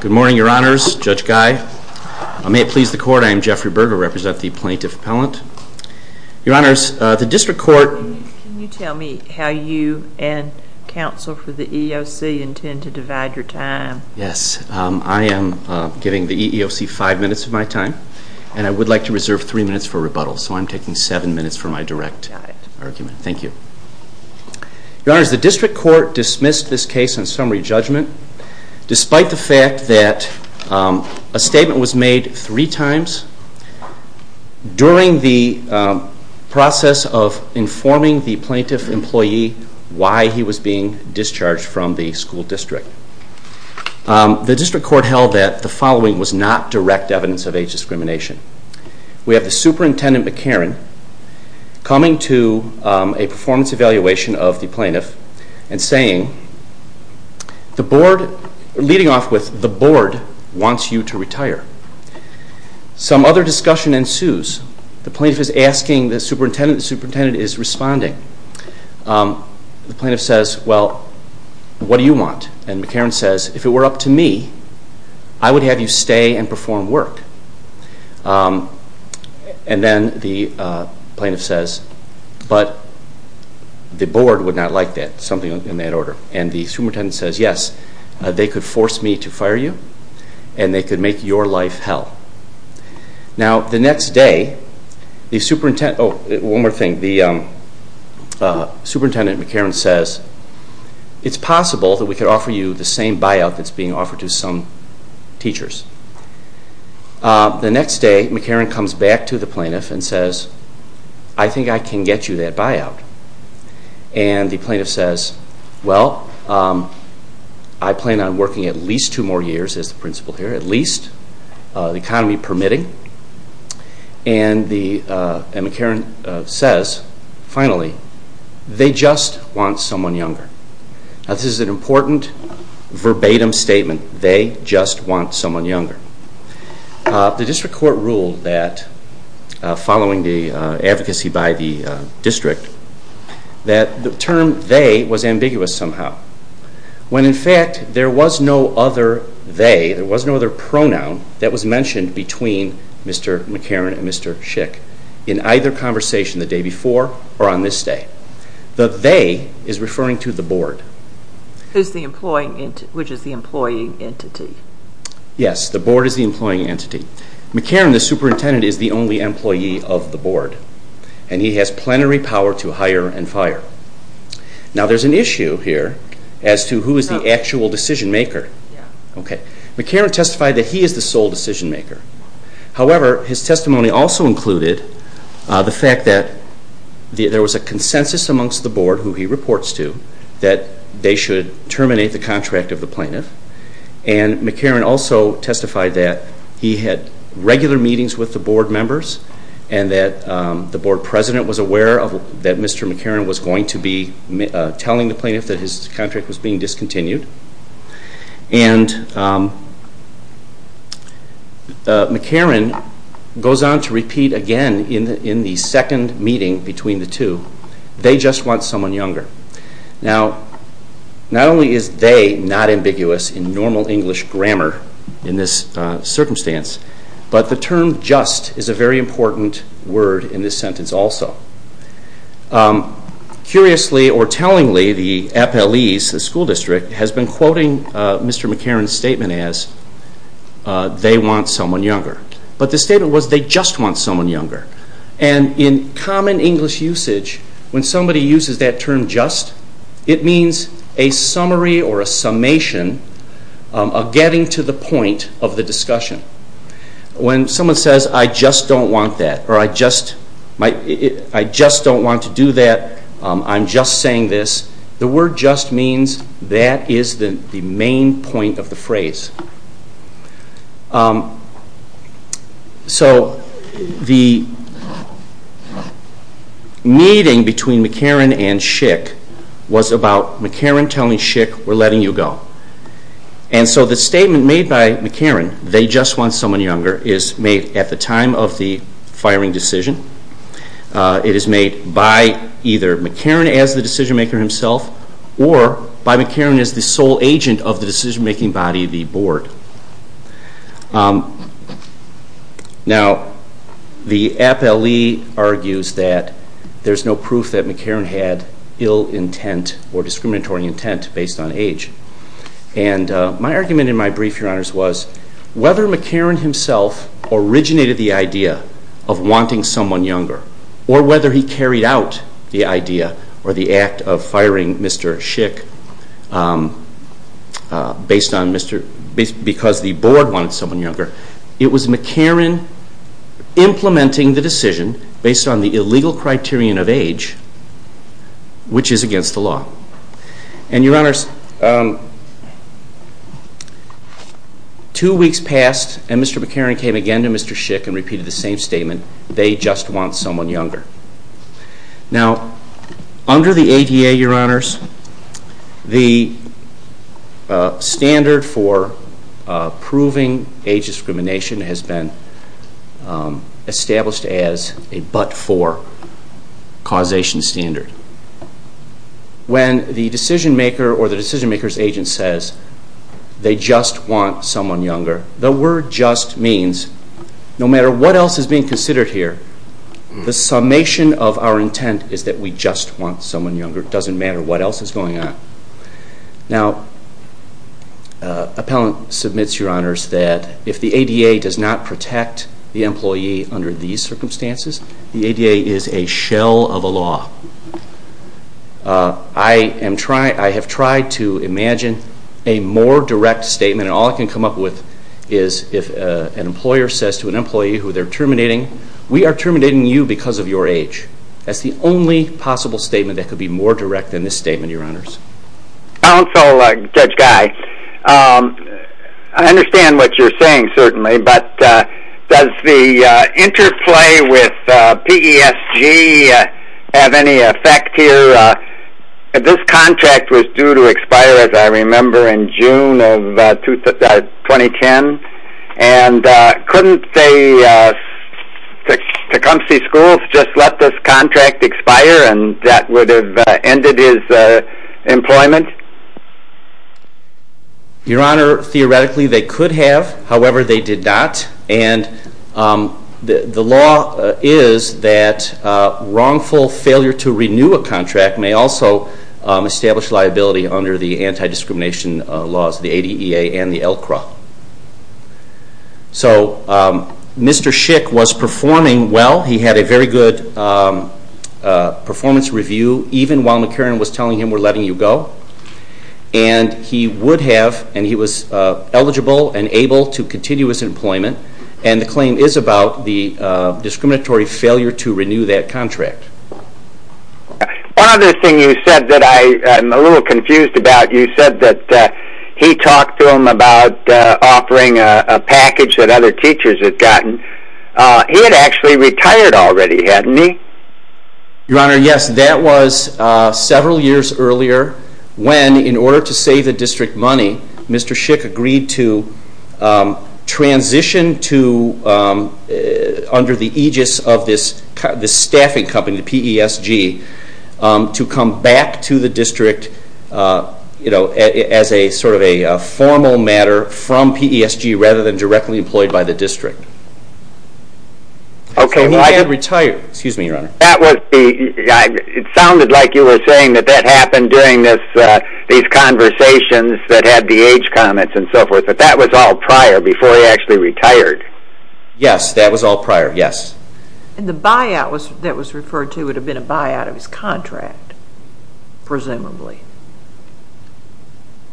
Good morning, Your Honors. Judge Guy. May it please the Court, I am Jeffrey Berger, representing the Plaintiff Appellant. Your Honors, the District Court... Can you tell me how you and counsel for the EEOC intend to divide your time? Yes, I am giving the EEOC five minutes of my time, and I would like to reserve three minutes for rebuttal, so I'm taking seven minutes for my direct argument. Thank you. Your Honors, the District Court dismissed this case on summary judgment, despite the fact that a statement was made three times during the process of informing the plaintiff employee why he was being discharged from the school district. The District Court held that the following was not direct evidence of age discrimination. We have the Superintendent McCarran coming to a performance evaluation of the plaintiff and saying, The Board, leading off with, The Board wants you to retire. Some other discussion ensues. The plaintiff is asking the superintendent, the superintendent is responding. The plaintiff says, Well, what do you want? And McCarran says, If it were up to me, I would have you stay and perform work. And then the plaintiff says, But the Board would not like that. Something in that order. And the superintendent says, Yes, they could force me to fire you, and they could make your life hell. Now, the next day, the superintendent, oh, one more thing, the superintendent McCarran says, It's possible that we could offer you the same buyout that's being offered to some teachers. The next day, McCarran comes back to the plaintiff and says, I think I can get you that buyout. And the plaintiff says, Well, I plan on working at least two more years as the principal here, at least, the economy permitting. And McCarran says, Finally, they just want someone younger. Now, this is an important verbatim statement. They just want someone younger. The district court ruled that, following the advocacy by the district, that the term they was ambiguous somehow. When, in fact, there was no other they, there was no other pronoun that was mentioned between Mr. McCarran and Mr. Schick in either conversation the day before or on this day. The they is referring to the Board. Who's the employee, which is the employee entity? Yes, the Board is the employee entity. McCarran, the superintendent, is the only employee of the Board, and he has plenary power to hire and fire. Now, there's an issue here as to who is the actual decision maker. McCarran testified that he is the sole decision maker. However, his testimony also included the fact that there was a consensus amongst the Board, who he reports to, that they should terminate the contract of the plaintiff. And McCarran also testified that he had regular meetings with the Board members and that the Board president was aware that Mr. McCarran was going to be telling the plaintiff that his contract was being discontinued. And McCarran goes on to repeat again in the second meeting between the two, they just want someone younger. Now, not only is they not ambiguous in normal English grammar in this circumstance, but the term just is a very important word in this sentence also. Curiously or tellingly, the FLEs, the school district, has been quoting Mr. McCarran's statement as they want someone younger. But the statement was they just want someone younger. And in common English usage, when somebody uses that term just, it means a summary or a summation of getting to the point of the discussion. When someone says I just don't want that, or I just don't want to do that, I'm just saying this, the word just means that is the main point of the phrase. So the meeting between McCarran and Schick was about McCarran telling Schick we're letting you go. And so the statement made by McCarran, they just want someone younger, is made at the time of the firing decision. It is made by either McCarran as the decision maker himself, or by McCarran as the sole agent of the decision making body, the board. Now, the FLE argues that there's no proof that McCarran had ill intent or discriminatory intent based on age. And my argument in my brief, Your Honors, was whether McCarran himself originated the idea of wanting someone younger, or whether he carried out the idea or the act of firing Mr. Schick because the board wanted someone younger, it was McCarran implementing the decision based on the illegal criterion of age, which is against the law. And Your Honors, two weeks passed and Mr. McCarran came again to Mr. Schick and repeated the same statement, they just want someone younger. Now, under the ADA, Your Honors, the standard for proving age discrimination has been established as a but-for causation standard. When the decision maker or the decision maker's agent says, they just want someone younger, the word just means, no matter what else is being considered here, the summation of our intent is that we just want someone younger. It doesn't matter what else is going on. Now, Appellant submits, Your Honors, that if the ADA does not protect the employee under these circumstances, the ADA is a shell of a law. I have tried to imagine a more direct statement and all I can come up with is if an employer says to an employee who they're terminating, we are terminating you because of your age. That's the only possible statement that could be more direct than this statement, Your Honors. Counsel Judge Guy, I understand what you're saying certainly, but does the interplay with PESG have any effect here? This contract was due to expire, as I remember, in June of 2010 and couldn't they, Tecumseh Schools, just let this contract expire and that would have ended his employment? Your Honor, theoretically they could have, however, they did not and the law is that wrongful failure to renew a contract may also establish liability under the anti-discrimination laws, the ADEA and the LCRA. So, Mr. Schick was performing well, he had a very good performance review even while McCarran was telling him we're letting you go and he would have and he was eligible and able to continue his employment and the claim is about the discriminatory failure to renew that contract. One other thing you said that I am a little confused about, you said that he talked to him about offering a package that other teachers had gotten, he had actually retired already, hadn't he? Your Honor, yes, that was several years earlier when, in order to save the district money, Mr. Schick agreed to transition under the aegis of this staffing company, PESG, to come back to the district as a formal matter from PESG rather than directly employed by the district. It sounded like you were saying that that happened during these conversations that had the age comments and so forth, but that was all prior, before he actually retired? Yes, that was all prior, yes. And the buyout that was referred to would have been a buyout of his contract, presumably?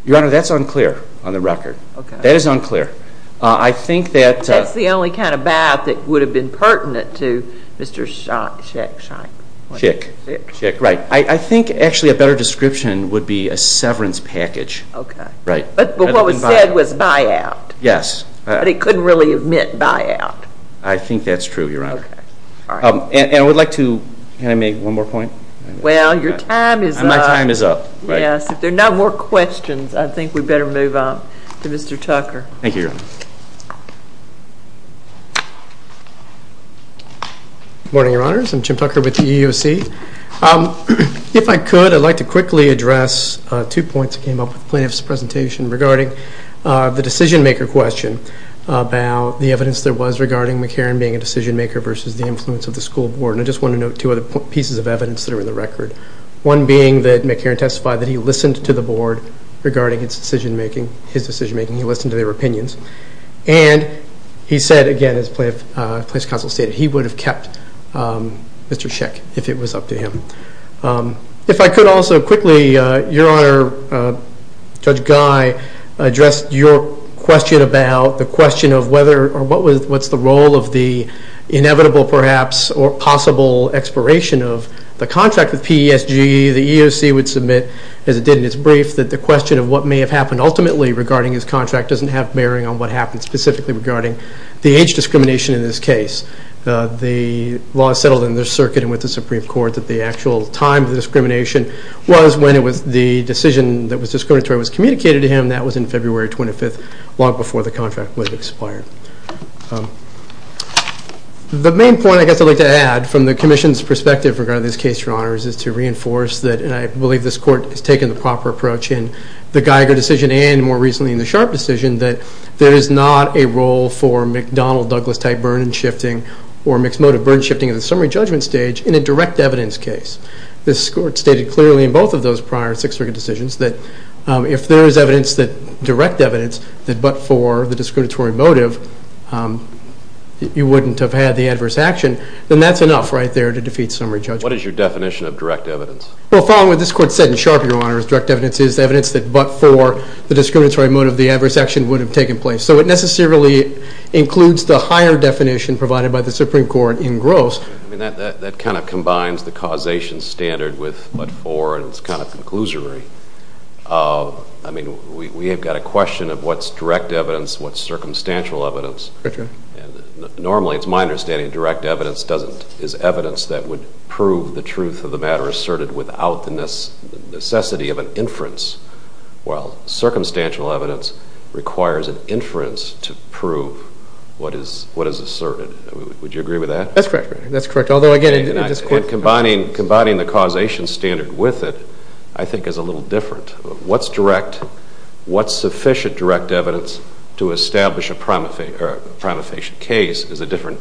Your Honor, that's unclear on the record. That is unclear. That's the only kind of buyout that would have been pertinent to Mr. Schick. Schick, right. I think actually a better description would be a severance package. But what was said was buyout. Yes. But he couldn't really admit buyout. I think that's true, Your Honor. And I would like to, can I make one more point? Well, your time is up. My time is up. Yes, if there are no more questions, I think we better move on to Mr. Tucker. Thank you, Your Honor. Good morning, Your Honors. I'm Jim Tucker with the EEOC. If I could, I'd like to quickly address two points that came up with the plaintiff's presentation regarding the decision-maker question about the evidence there was regarding McCarran being a decision-maker versus the influence of the school board. And I just want to note two other pieces of evidence that are in the record, one being that McCarran testified that he listened to the board regarding his decision-making. He listened to their opinions. And he said, again, as the plaintiff's counsel stated, he would have kept Mr. Schick if it was up to him. If I could also quickly, Your Honor, Judge Guy, address your question about the question of whether or what's the role of the inevitable perhaps or possible expiration of the contract with PESG. The EEOC would submit, as it did in its brief, that the question of what may have happened ultimately regarding his contract doesn't have bearing on what happened specifically regarding the age discrimination in this case. The law is settled in this circuit and with the Supreme Court that the actual time of the discrimination was when the decision that was discriminatory was communicated to him. That was in February 25th, long before the contract was expired. The main point I guess I'd like to add from the Commission's perspective regarding this case, Your Honors, is to reinforce that, and I believe this court has taken the proper approach in the Geiger decision and more recently in the Sharp decision, that there is not a role for McDonnell-Douglas type burden shifting or mixed motive burden shifting at the summary judgment stage in a direct evidence case. This court stated clearly in both of those prior six circuit decisions that if there is direct evidence that but for the discriminatory motive, you wouldn't have had the adverse action, then that's enough right there to defeat summary judgment. What is your definition of direct evidence? Well, following what this court said in Sharp, Your Honors, direct evidence is evidence that but for the discriminatory motive, the adverse action would have taken place. So it necessarily includes the higher definition provided by the Supreme Court in gross. I mean, that kind of combines the causation standard with but for, and it's kind of conclusory. I mean, we have got a question of what's direct evidence, what's circumstantial evidence. Normally, it's my understanding direct evidence is evidence that would prove the truth of the matter asserted without the necessity of an inference, while circumstantial evidence requires an inference to prove what is asserted. Would you agree with that? That's correct, Your Honor. That's correct. Although, again, in this court. And combining the causation standard with it, I think is a little different. What's direct, what's sufficient direct evidence to establish a prima facie case is a different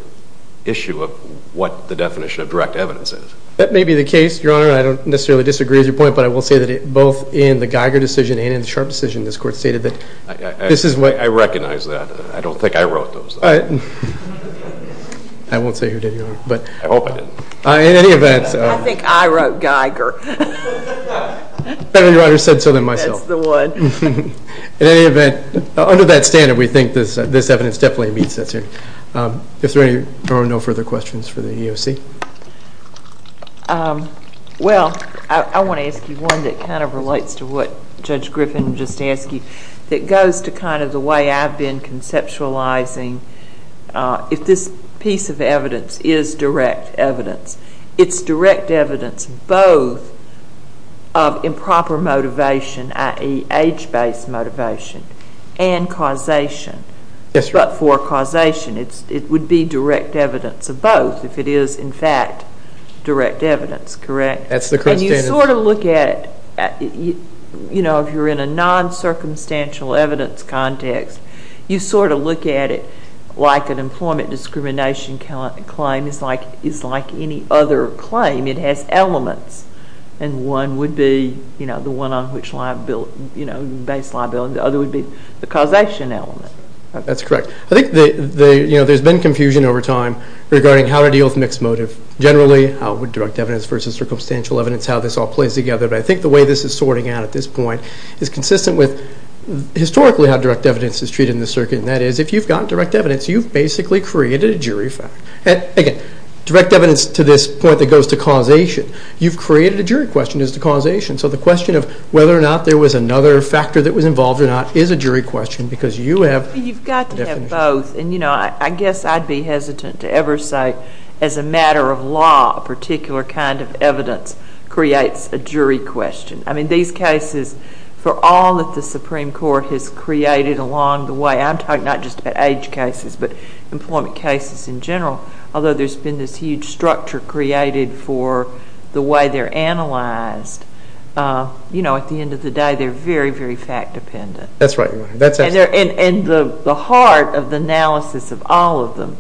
issue of what the definition of direct evidence is. That may be the case, Your Honor. I don't necessarily disagree with your point, but I will say that both in the Geiger decision and in the Sharp decision, this court stated that this is what. I recognize that. I don't think I wrote those. I won't say who did, Your Honor. I hope I didn't. In any event. I think I wrote Geiger. If any writer said so, then myself. That's the one. In any event, under that standard, we think this evidence definitely meets that standard. If there are no further questions for the EEOC. Well, I want to ask you one that kind of relates to what Judge Griffin just asked you. It goes to kind of the way I've been conceptualizing if this piece of evidence is direct evidence. It's direct evidence both of improper motivation, i.e., age-based motivation, and causation. Yes, Your Honor. But for causation, it would be direct evidence of both if it is, in fact, direct evidence, correct? That's the correct standard. And you sort of look at it, you know, if you're in a non-circumstantial evidence context, you sort of look at it like an employment discrimination claim is like any other claim. It has elements, and one would be, you know, the one on which liability, you know, based liability. The other would be the causation element. That's correct. I think, you know, there's been confusion over time regarding how to deal with mixed motive. Generally, how would direct evidence versus circumstantial evidence, how this all plays together. But I think the way this is sorting out at this point is consistent with historically how direct evidence is treated in the circuit, and that is if you've gotten direct evidence, you've basically created a jury fact. Again, direct evidence to this point that goes to causation. You've created a jury question as to causation. So the question of whether or not there was another factor that was involved or not is a jury question because you have the definition. You've got to have both, and, you know, I guess I'd be hesitant to ever say as a matter of law, a particular kind of evidence creates a jury question. I mean, these cases, for all that the Supreme Court has created along the way, I'm talking not just about age cases but employment cases in general, although there's been this huge structure created for the way they're analyzed, you know, at the end of the day they're very, very fact dependent. That's right. And the heart of the analysis of all of them,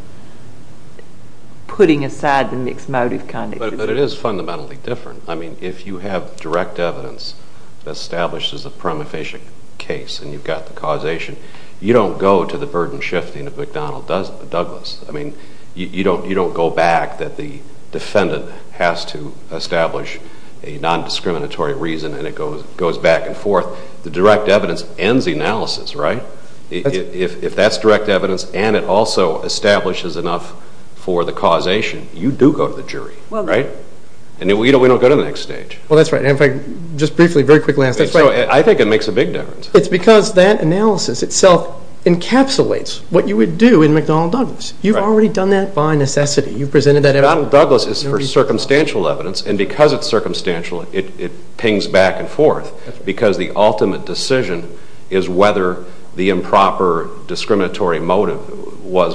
putting aside the mixed motive context. But it is fundamentally different. I mean, if you have direct evidence established as a prima facie case and you've got the causation, you don't go to the burden shifting of McDonnell Douglas. I mean, you don't go back that the defendant has to establish a nondiscriminatory reason and it goes back and forth. The direct evidence ends the analysis, right? If that's direct evidence and it also establishes enough for the causation, you do go to the jury, right? And we don't go to the next stage. Well, that's right. And if I just briefly, very quickly ask, that's right. I think it makes a big difference. It's because that analysis itself encapsulates what you would do in McDonnell Douglas. You've already done that by necessity. You've presented that evidence. McDonnell Douglas is for circumstantial evidence, and because it's circumstantial it pings back and forth because the ultimate decision is whether the improper discriminatory motive was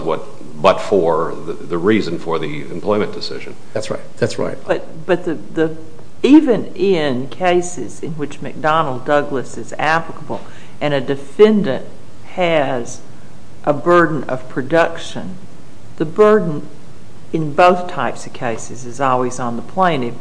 but for the reason for the employment decision. That's right. But even in cases in which McDonnell Douglas is applicable and a defendant has a burden of production, the burden in both types of cases is always on the plaintiff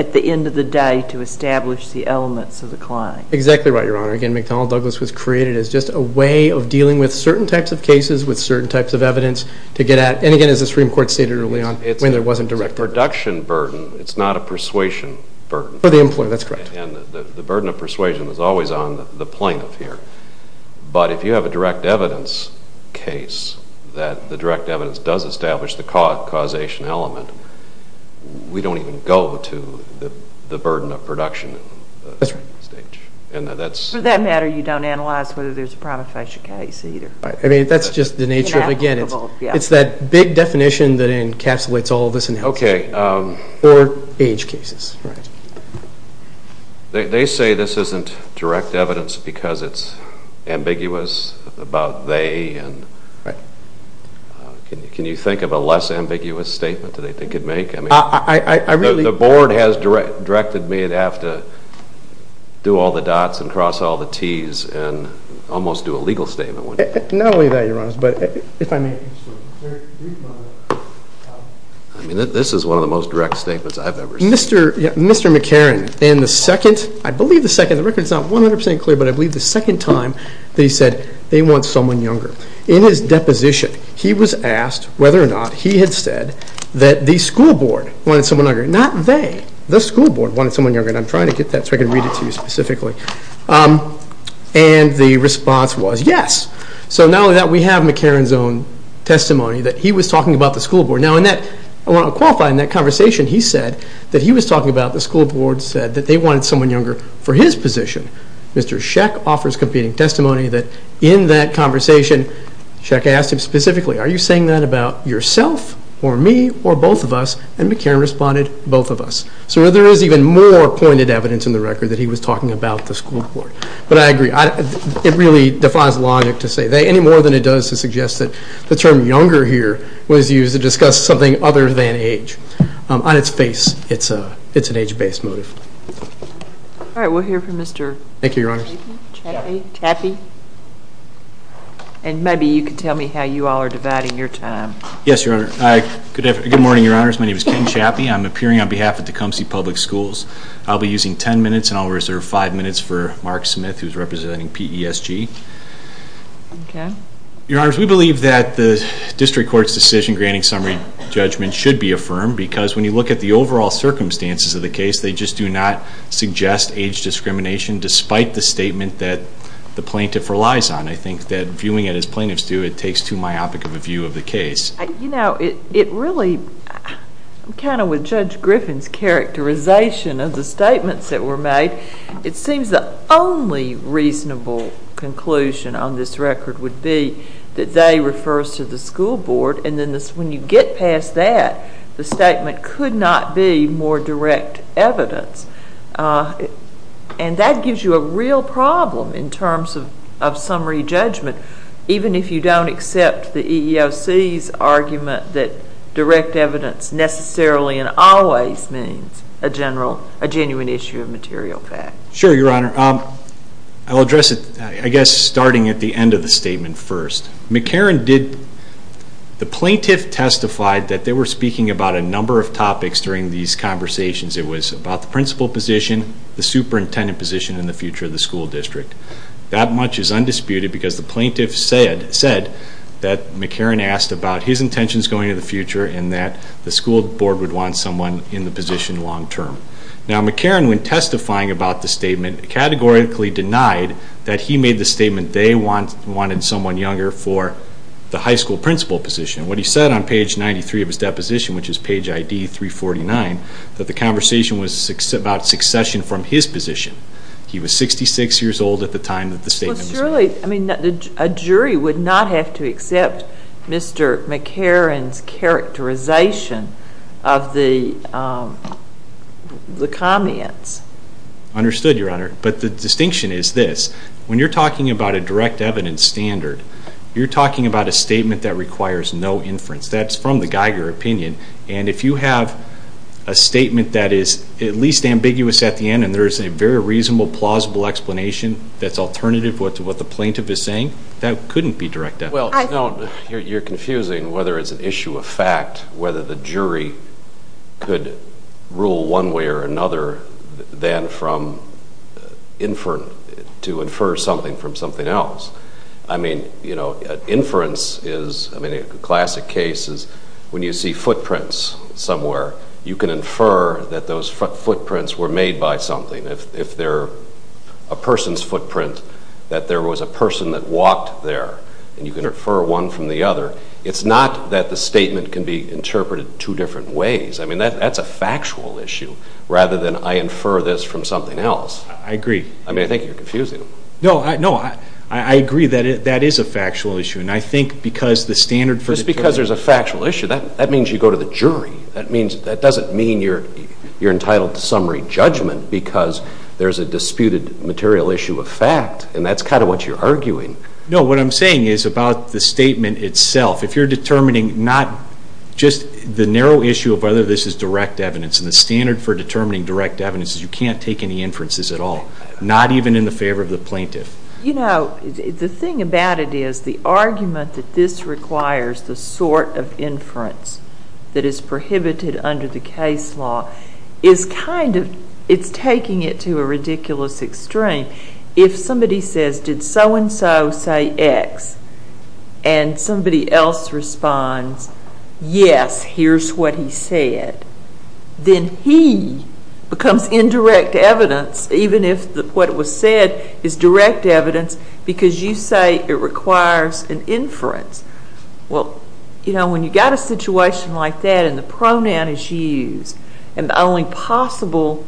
at the end of the day to establish the elements of the claim. Exactly right, Your Honor. Again, McDonnell Douglas was created as just a way of dealing with certain types of cases with certain types of evidence to get at, and again, as the Supreme Court stated early on, when there wasn't direct evidence. It's a production burden. It's not a persuasion burden. For the employer, that's correct. And the burden of persuasion is always on the plaintiff here. But if you have a direct evidence case that the direct evidence does establish the causation element, we don't even go to the burden of production stage. That's right. For that matter, you don't analyze whether there's a prima facie case either. I mean, that's just the nature of, again, it's that big definition that encapsulates all of this analysis. Okay. Or age cases. Right. They say this isn't direct evidence because it's ambiguous about they, and can you think of a less ambiguous statement? What do they think it'd make? The board has directed me to have to do all the dots and cross all the Ts and almost do a legal statement, wouldn't you? Not only that, Your Honor, but if I may. I mean, this is one of the most direct statements I've ever seen. Mr. McCarron, in the second, I believe the second, the record's not 100% clear, but I believe the second time that he said they want someone younger. In his deposition, he was asked whether or not he had said that the school board wanted someone younger. Not they. The school board wanted someone younger, and I'm trying to get that so I can read it to you specifically. And the response was yes. So not only that, we have McCarron's own testimony that he was talking about the school board. Now, I want to qualify in that conversation. He said that he was talking about the school board said that they wanted someone younger for his position. Mr. Sheck offers competing testimony that in that conversation, Sheck asked him specifically, are you saying that about yourself or me or both of us? And McCarron responded, both of us. So there is even more pointed evidence in the record that he was talking about the school board. But I agree. It really defies logic to say any more than it does to suggest that the term younger here was used to discuss something other than age. On its face, it's an age-based motive. All right, we'll hear from Mr. Chappie. And maybe you can tell me how you all are dividing your time. Yes, Your Honor. Good morning, Your Honors. My name is Ken Chappie. I'm appearing on behalf of Tecumseh Public Schools. I'll be using ten minutes, and I'll reserve five minutes for Mark Smith, who's representing PESG. Your Honors, we believe that the district court's decision granting summary judgment should be affirmed because when you look at the overall circumstances of the case, they just do not suggest age discrimination despite the statement that the plaintiff relies on. I think that viewing it as plaintiffs do, it takes too myopic of a view of the case. You know, it really, kind of with Judge Griffin's characterization of the statements that were made, it seems the only reasonable conclusion on this record would be that they refers to the school board, and then when you get past that, the statement could not be more direct evidence. And that gives you a real problem in terms of summary judgment, even if you don't accept the EEOC's argument that direct evidence necessarily and always means a genuine issue of material fact. Sure, Your Honor. I'll address it, I guess, starting at the end of the statement first. McCarron did, the plaintiff testified that they were speaking about a number of topics during these conversations. It was about the principal position, the superintendent position, and the future of the school district. That much is undisputed because the plaintiff said that McCarron asked about his intentions going into the future and that the school board would want someone in the position long term. Now, McCarron, when testifying about the statement, categorically denied that he made the statement that they wanted someone younger for the high school principal position. What he said on page 93 of his deposition, which is page ID 349, that the conversation was about succession from his position. He was 66 years old at the time that the statement was made. Surely, a jury would not have to accept Mr. McCarron's characterization of the comments. Understood, Your Honor. But the distinction is this. When you're talking about a direct evidence standard, you're talking about a statement that requires no inference. That's from the Geiger opinion. And if you have a statement that is at least ambiguous at the end and there is a very reasonable, plausible explanation that's alternative to what the plaintiff is saying, that couldn't be direct evidence. Well, no, you're confusing whether it's an issue of fact, whether the jury could rule one way or another than to infer something from something else. I mean, you know, inference is, I mean, a classic case is when you see footprints somewhere, you can infer that those footprints were made by something. If they're a person's footprint, that there was a person that walked there, and you can infer one from the other. It's not that the statement can be interpreted two different ways. I mean, that's a factual issue rather than I infer this from something else. I agree. I mean, I think you're confusing them. No, I agree that that is a factual issue. And I think because the standard for the jury – Just because there's a factual issue, that means you go to the jury. That doesn't mean you're entitled to summary judgment because there's a disputed material issue of fact, and that's kind of what you're arguing. No, what I'm saying is about the statement itself. If you're determining not just the narrow issue of whether this is direct evidence, and the standard for determining direct evidence is you can't take any inferences at all, not even in the favor of the plaintiff. You know, the thing about it is the argument that this requires the sort of inference that is prohibited under the case law is kind of – it's taking it to a ridiculous extreme. If somebody says, did so-and-so say X, and somebody else responds, yes, here's what he said, then he becomes indirect evidence even if what was said is direct evidence because you say it requires an inference. Well, you know, when you've got a situation like that and the pronoun is used, and the only possible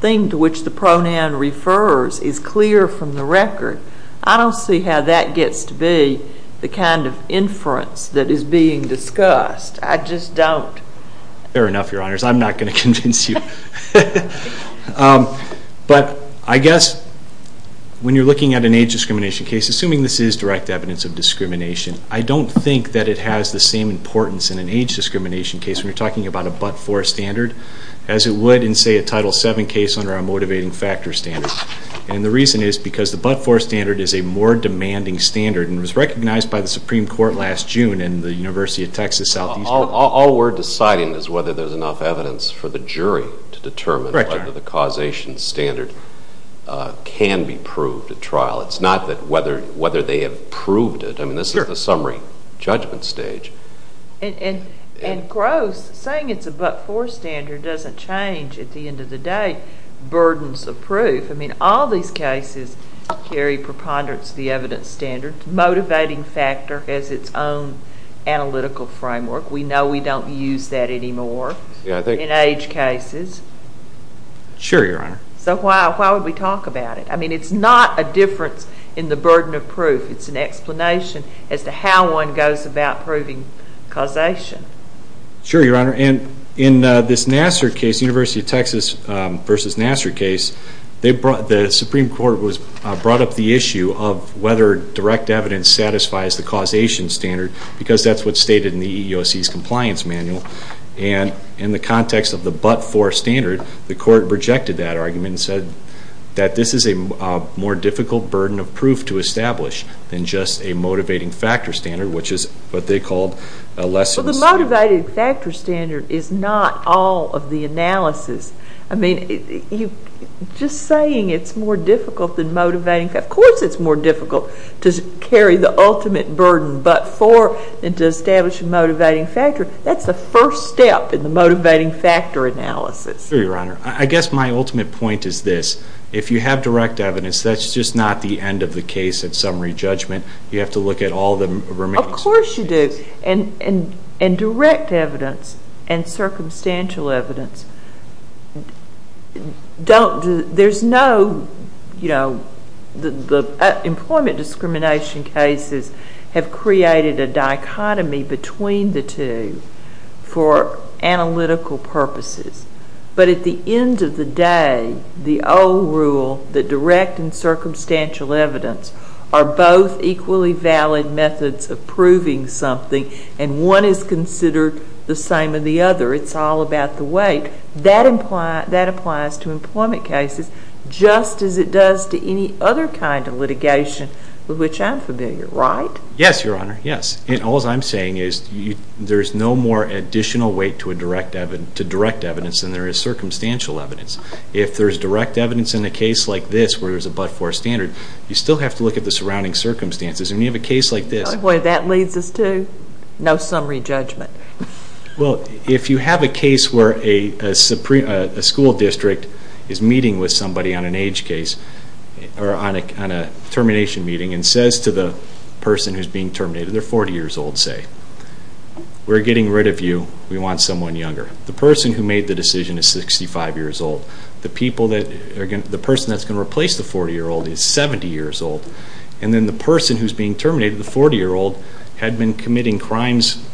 thing to which the pronoun refers is clear from the record, I don't see how that gets to be the kind of inference that is being discussed. I just don't. Fair enough, Your Honors. I'm not going to convince you. But I guess when you're looking at an age discrimination case, assuming this is direct evidence of discrimination, I don't think that it has the same importance in an age discrimination case when you're talking about a but-for standard as it would in, say, a Title VII case under a motivating factor standard. And the reason is because the but-for standard is a more demanding standard and was recognized by the Supreme Court last June and the University of Texas Southeast. All we're deciding is whether there's enough evidence for the jury to determine whether the causation standard can be proved at trial. It's not whether they have proved it. I mean, this is the summary judgment stage. And gross, saying it's a but-for standard doesn't change, at the end of the day, burdens of proof. I mean, all these cases carry preponderance of the evidence standard. Motivating factor has its own analytical framework. We know we don't use that anymore in age cases. Sure, Your Honor. So why would we talk about it? I mean, it's not a difference in the burden of proof. It's an explanation as to how one goes about proving causation. Sure, Your Honor. And in this Nassar case, University of Texas versus Nassar case, the Supreme Court brought up the issue of whether direct evidence satisfies the causation standard because that's what's stated in the EEOC's compliance manual. And in the context of the but-for standard, the court rejected that argument and said that this is a more difficult burden of proof to establish than just a motivating factor standard, which is what they called a less than a 0. Well, the motivating factor standard is not all of the analysis. I mean, just saying it's more difficult than motivating factor, of course it's more difficult to carry the ultimate burden but-for than to establish a motivating factor. That's the first step in the motivating factor analysis. Sure, Your Honor. I guess my ultimate point is this. If you have direct evidence, that's just not the end of the case at summary judgment. You have to look at all the remains. Of course you do. And direct evidence and circumstantial evidence, there's no, you know, the employment discrimination cases have created a dichotomy between the two for analytical purposes. But at the end of the day, the old rule, the direct and circumstantial evidence are both equally valid methods of proving something and one is considered the same of the other. It's all about the weight. That applies to employment cases just as it does to any other kind of litigation with which I'm familiar, right? Yes, Your Honor, yes. All I'm saying is there's no more additional weight to direct evidence than there is circumstantial evidence. If there's direct evidence in a case like this where there's a but-for standard, you still have to look at the surrounding circumstances. When you have a case like this- Boy, that leads us to no summary judgment. Well, if you have a case where a school district is meeting with somebody on an age case or on a termination meeting and says to the person who's being terminated, they're 40 years old, say, we're getting rid of you, we want someone younger. The person who made the decision is 65 years old. The person that's going to replace the 40-year-old is 70 years old. And then the person who's being terminated, the 40-year-old, had been committing crimes,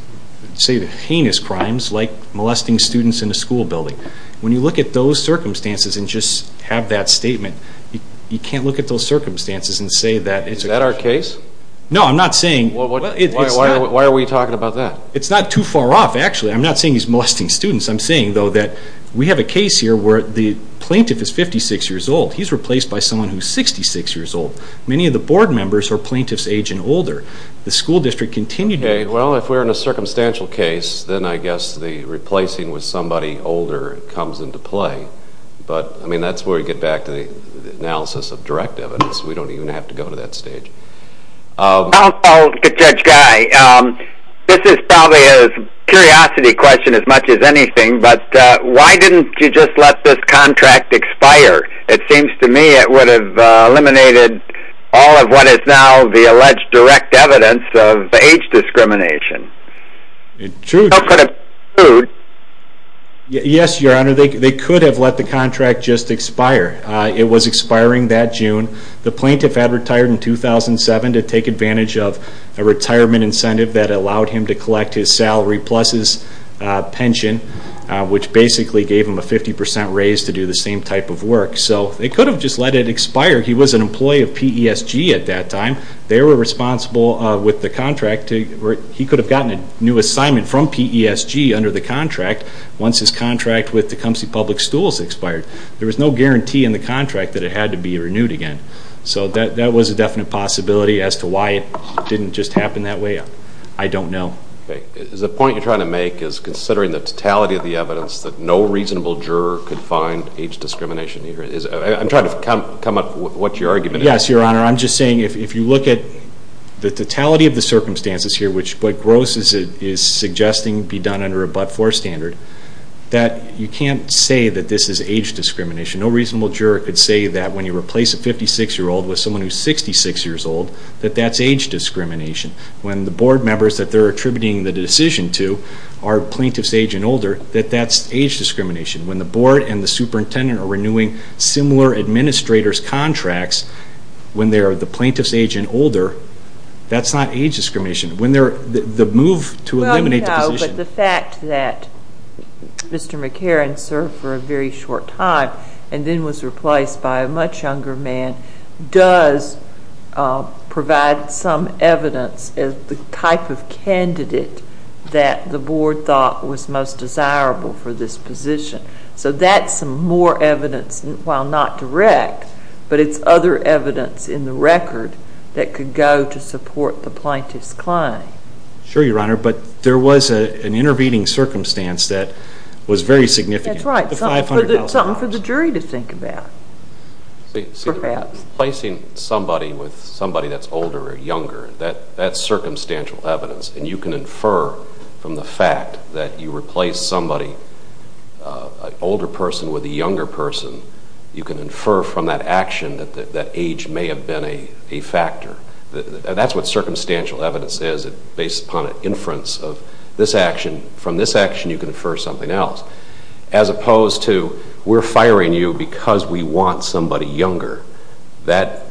say heinous crimes, like molesting students in a school building. When you look at those circumstances and just have that statement, you can't look at those circumstances and say that it's a- Is that our case? No, I'm not saying- Why are we talking about that? It's not too far off, actually. I'm not saying he's molesting students. I'm saying, though, that we have a case here where the plaintiff is 56 years old. He's replaced by someone who's 66 years old. Many of the board members are plaintiff's age and older. The school district continued- Okay, well, if we're in a circumstantial case, then I guess the replacing with somebody older comes into play. But, I mean, that's where we get back to the analysis of direct evidence. We don't even have to go to that stage. I'll get Judge Guy. This is probably a curiosity question as much as anything, but why didn't you just let this contract expire? It seems to me it would have eliminated all of what is now the alleged direct evidence of age discrimination. True. Yes, Your Honor, they could have let the contract just expire. It was expiring that June. The plaintiff had retired in 2007 to take advantage of a retirement incentive that allowed him to collect his salary plus his pension, which basically gave him a 50% raise to do the same type of work. So they could have just let it expire. He was an employee of PESG at that time. They were responsible with the contract. He could have gotten a new assignment from PESG under the contract once his contract with Tecumseh Public Stools expired. There was no guarantee in the contract that it had to be renewed again. So that was a definite possibility as to why it didn't just happen that way. I don't know. The point you're trying to make is considering the totality of the evidence that no reasonable juror could find age discrimination here. I'm trying to come up with what your argument is. Yes, Your Honor. I'm just saying if you look at the totality of the circumstances here, which what Gross is suggesting be done under a but-for standard, that you can't say that this is age discrimination. No reasonable juror could say that when you replace a 56-year-old with someone who's 66 years old, that that's age discrimination. When the board members that they're attributing the decision to are plaintiff's age and older, that that's age discrimination. When the board and the superintendent are renewing similar administrator's contracts, when they're the plaintiff's age and older, that's not age discrimination. The move to eliminate the position. No, but the fact that Mr. McCarran served for a very short time and then was replaced by a much younger man does provide some evidence as the type of candidate that the board thought was most desirable for this position. So that's some more evidence, while not direct, but it's other evidence in the record that could go to support the plaintiff's claim. Sure, Your Honor, but there was an intervening circumstance that was very significant. That's right. Something for the jury to think about, perhaps. Replacing somebody with somebody that's older or younger, that's circumstantial evidence, and you can infer from the fact that you replace somebody, an older person with a younger person, you can infer from that action that that age may have been a factor. That's what circumstantial evidence is. Based upon an inference of this action, from this action you can infer something else. As opposed to, we're firing you because we want somebody younger.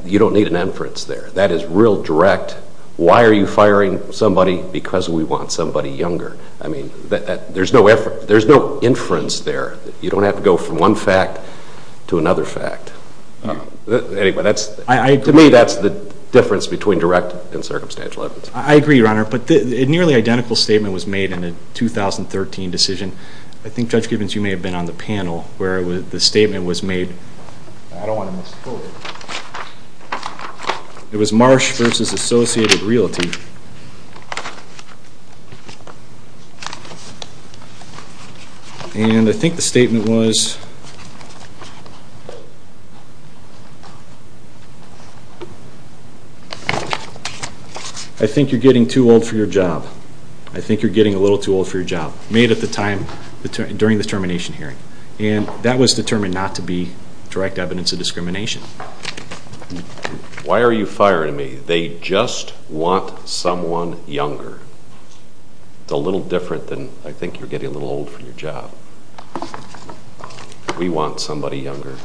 You don't need an inference there. That is real direct. Why are you firing somebody? Because we want somebody younger. There's no inference there. You don't have to go from one fact to another fact. To me, that's the difference between direct and circumstantial evidence. I agree, Your Honor, but a nearly identical statement was made in a 2013 decision. I think, Judge Gibbons, you may have been on the panel where the statement was made. I don't want to misquote it. It was Marsh versus Associated Realty. And I think the statement was, I think you're getting too old for your job. I think you're getting a little too old for your job. It was made at the time during the termination hearing. And that was determined not to be direct evidence of discrimination. Why are you firing me? They just want someone younger. It's a little different than, I think you're getting a little old for your job. We want somebody younger.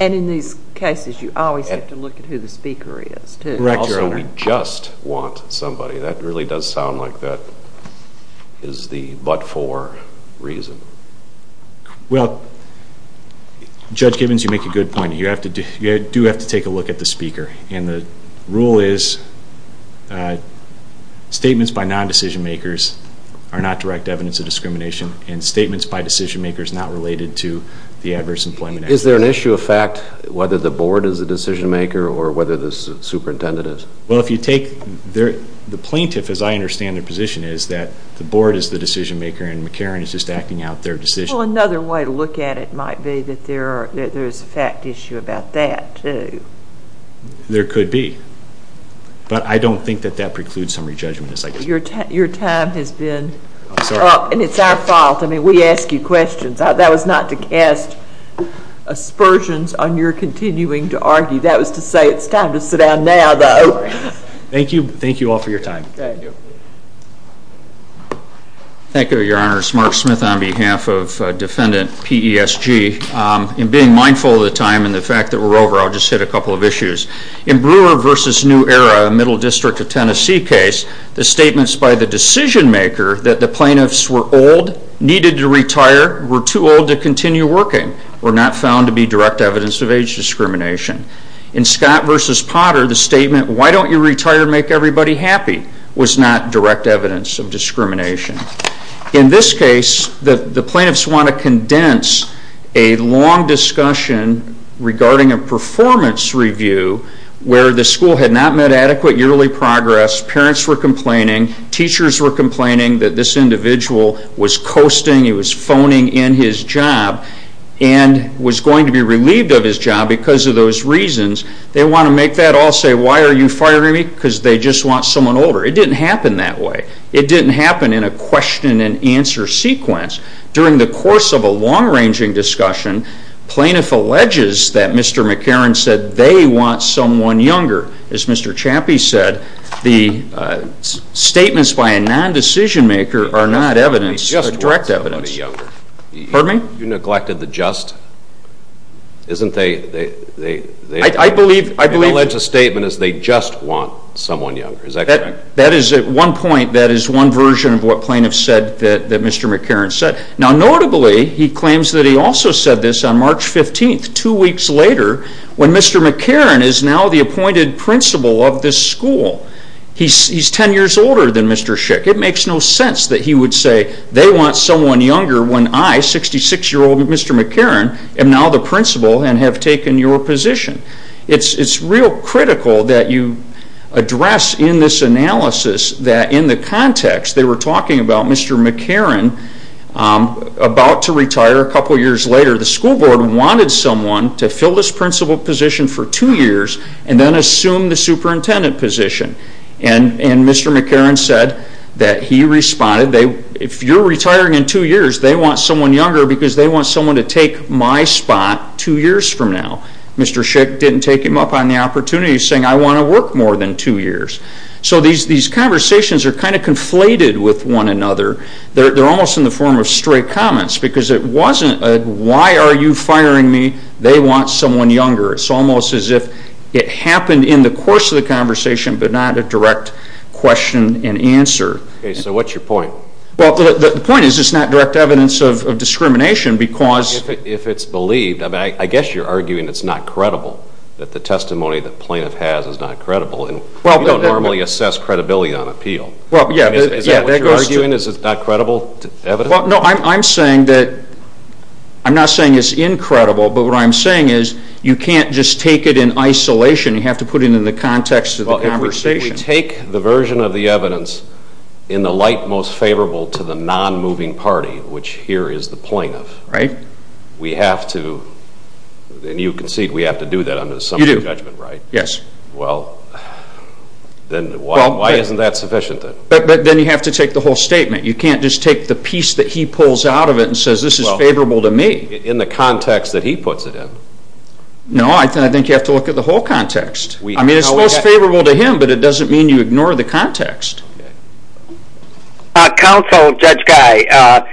And in these cases, you always have to look at who the speaker is, too. Correct, Your Honor. Also, we just want somebody. That really does sound like that is the but-for reason. Well, Judge Gibbons, you make a good point. You do have to take a look at the speaker. And the rule is statements by non-decision-makers are not direct evidence of discrimination and statements by decision-makers not related to the Adverse Employment Act. Is there an issue of fact, whether the board is the decision-maker or whether the superintendent is? Well, if you take the plaintiff, as I understand their position, is that the board is the decision-maker and McCarran is just acting out their decision. Well, another way to look at it might be that there is a fact issue about that, too. There could be. But I don't think that that precludes summary judgment. Your time has been up, and it's our fault. I mean, we ask you questions. That was not to cast aspersions on your continuing to argue. That was to say it's time to sit down now, though. Thank you. Thank you all for your time. Thank you. Thank you, Your Honors. Mark Smith on behalf of Defendant PESG. In being mindful of the time and the fact that we're over, I'll just hit a couple of issues. In Brewer v. New Era, a Middle District of Tennessee case, were too old to continue working, were not found to be direct evidence of age discrimination. In Scott v. Potter, the statement, Why don't you retire and make everybody happy? was not direct evidence of discrimination. In this case, the plaintiffs want to condense a long discussion regarding a performance review where the school had not met adequate yearly progress, parents were complaining, teachers were complaining that this individual was coasting, he was phoning in his job, and was going to be relieved of his job because of those reasons. They want to make that all say, Why are you firing me? Because they just want someone older. It didn't happen that way. It didn't happen in a question-and-answer sequence. During the course of a long-ranging discussion, plaintiff alleges that Mr. McCarron said they want someone younger. As Mr. Chappie said, the statements by a non-decision-maker are not evidence, but direct evidence. Pardon me? You neglected the just? Isn't they... I believe... The alleged statement is they just want someone younger. Is that correct? That is at one point, that is one version of what plaintiffs said that Mr. McCarron said. Now notably, he claims that he also said this on March 15th, two weeks later, when Mr. McCarron is now the appointed principal of this school. He's ten years older than Mr. Schick. It makes no sense that he would say they want someone younger when I, 66-year-old Mr. McCarron, am now the principal and have taken your position. It's real critical that you address in this analysis that in the context, they were talking about Mr. McCarron about to retire a couple years later. The school board wanted someone to fill this principal position for two years and then assume the superintendent position. And Mr. McCarron said that he responded, if you're retiring in two years, they want someone younger because they want someone to take my spot two years from now. Mr. Schick didn't take him up on the opportunity, saying, I want to work more than two years. So these conversations are kind of conflated with one another. They're almost in the form of straight comments because it wasn't, why are you firing me? They want someone younger. It's almost as if it happened in the course of the conversation but not a direct question and answer. Okay, so what's your point? The point is it's not direct evidence of discrimination because If it's believed, I guess you're arguing it's not credible, that the testimony the plaintiff has is not credible. You don't normally assess credibility on appeal. Is that what you're arguing? Is it not credible evidence? Well, no, I'm saying that, I'm not saying it's incredible, but what I'm saying is you can't just take it in isolation. You have to put it in the context of the conversation. Well, if we take the version of the evidence in the light most favorable to the non-moving party, which here is the plaintiff. Right. We have to, and you concede we have to do that under the summary of judgment, right? You do. Yes. Well, then why isn't that sufficient? But then you have to take the whole statement. You can't just take the piece that he pulls out of it and says this is favorable to me. In the context that he puts it in. No, I think you have to look at the whole context. I mean, it's most favorable to him, but it doesn't mean you ignore the context. Counsel, Judge Guy,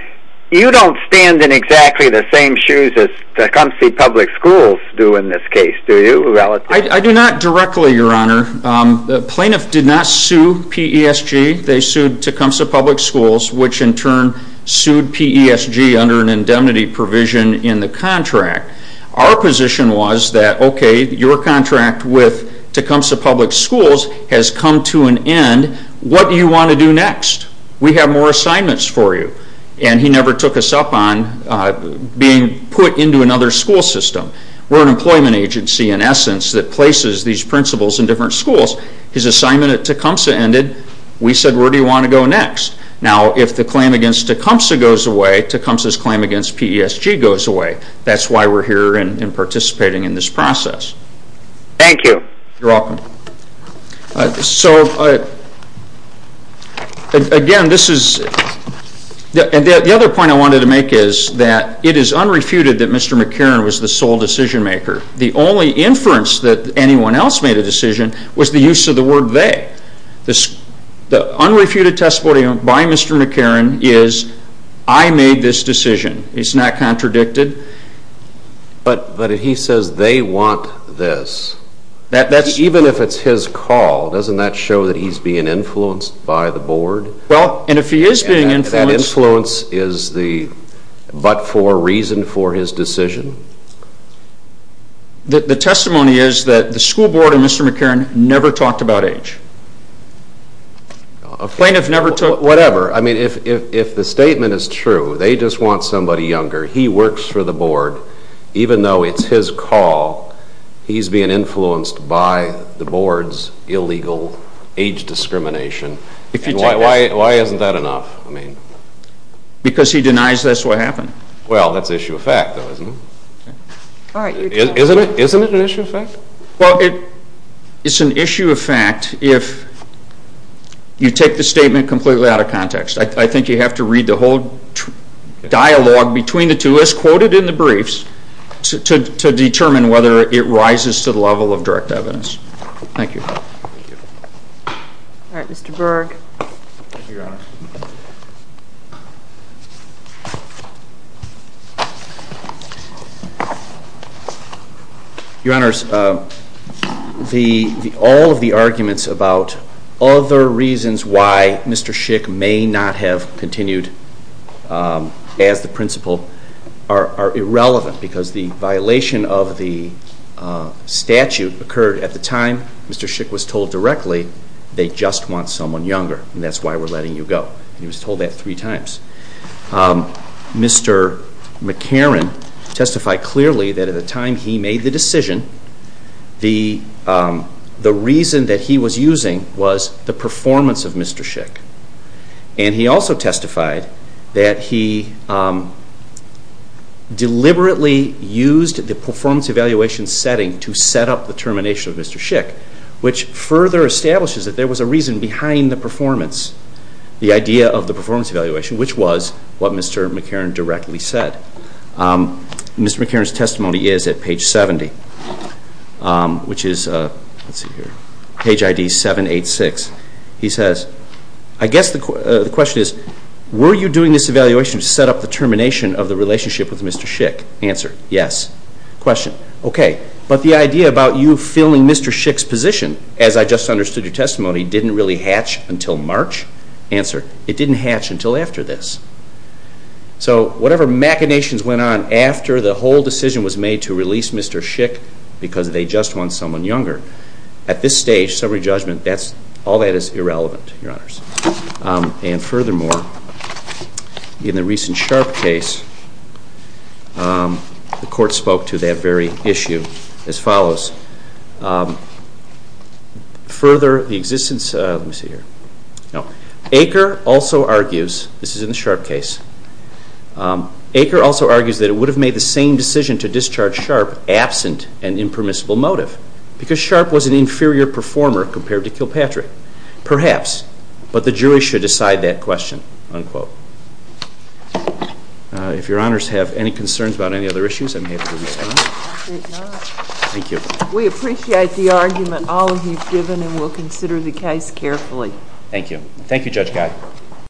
you don't stand in exactly the same shoes as Tecumseh Public Schools do in this case, do you? I do not directly, Your Honor. The plaintiff did not sue PESG. They sued Tecumseh Public Schools, which in turn sued PESG under an indemnity provision in the contract. Our position was that, okay, your contract with Tecumseh Public Schools has come to an end. What do you want to do next? We have more assignments for you. And he never took us up on being put into another school system. We're an employment agency, in essence, that places these principals in different schools. His assignment at Tecumseh ended. We said, where do you want to go next? Now, if the claim against Tecumseh goes away, Tecumseh's claim against PESG goes away. That's why we're here and participating in this process. Thank you. You're welcome. So, again, this is... The other point I wanted to make is that it is unrefuted that Mr. McCarran was the sole decision maker. The only inference that anyone else made a decision was the use of the word they. The unrefuted testimony by Mr. McCarran is, I made this decision. It's not contradicted. But if he says they want this, even if it's his call, doesn't that show that he's being influenced by the board? Well, and if he is being influenced... That influence is the but-for reason for his decision? The testimony is that the school board and Mr. McCarran never talked about age. Plaintiff never took... Whatever. I mean, if the statement is true, they just want somebody younger, he works for the board, even though it's his call, he's being influenced by the board's illegal age discrimination. Why isn't that enough? Because he denies that's what happened. Well, that's issue of fact, though, isn't it? Isn't it an issue of fact? Well, it's an issue of fact if you take the statement completely out of context. I think you have to read the whole dialogue between the two, as quoted in the briefs, to determine whether it rises to the level of direct evidence. All right, Mr. Berg. Thank you, Your Honor. Your Honors, all of the arguments about other reasons why Mr. Schick may not have continued as the principal are irrelevant, because the violation of the statute occurred at the time Mr. Schick was told directly they just want someone younger, and that's why we're letting you go. He was told that three times. Mr. McCarron testified clearly that at the time he made the decision, the reason that he was using was the performance of Mr. Schick. And he also testified that he deliberately used the performance evaluation setting to set up the termination of Mr. Schick, which further establishes that there was a reason behind the performance, the idea of the performance evaluation, which was what Mr. McCarron directly said. Mr. McCarron's testimony is at page 70, which is page ID 786. He says, I guess the question is, were you doing this evaluation to set up the termination of the relationship with Mr. Schick? Answer, yes. Question, okay. But the idea about you filling Mr. Schick's position, as I just understood your testimony, didn't really hatch until March? Answer, it didn't hatch until after this. So whatever machinations went on after the whole decision was made to release Mr. Schick because they just want someone younger, at this stage, summary judgment, all that is irrelevant, Your Honors. And furthermore, in the recent Sharp case, the Court spoke to that very issue as follows. Further, the existence, let me see here. Aker also argues, this is in the Sharp case, Aker also argues that it would have made the same decision to discharge Sharp absent an impermissible motive because Sharp was an inferior performer compared to Kilpatrick. Perhaps, but the jury should decide that question, unquote. If Your Honors have any concerns about any other issues, I'm happy to respond. Thank you. We appreciate the argument all of you have given and will consider the case carefully. Thank you. Thank you, Judge Guy.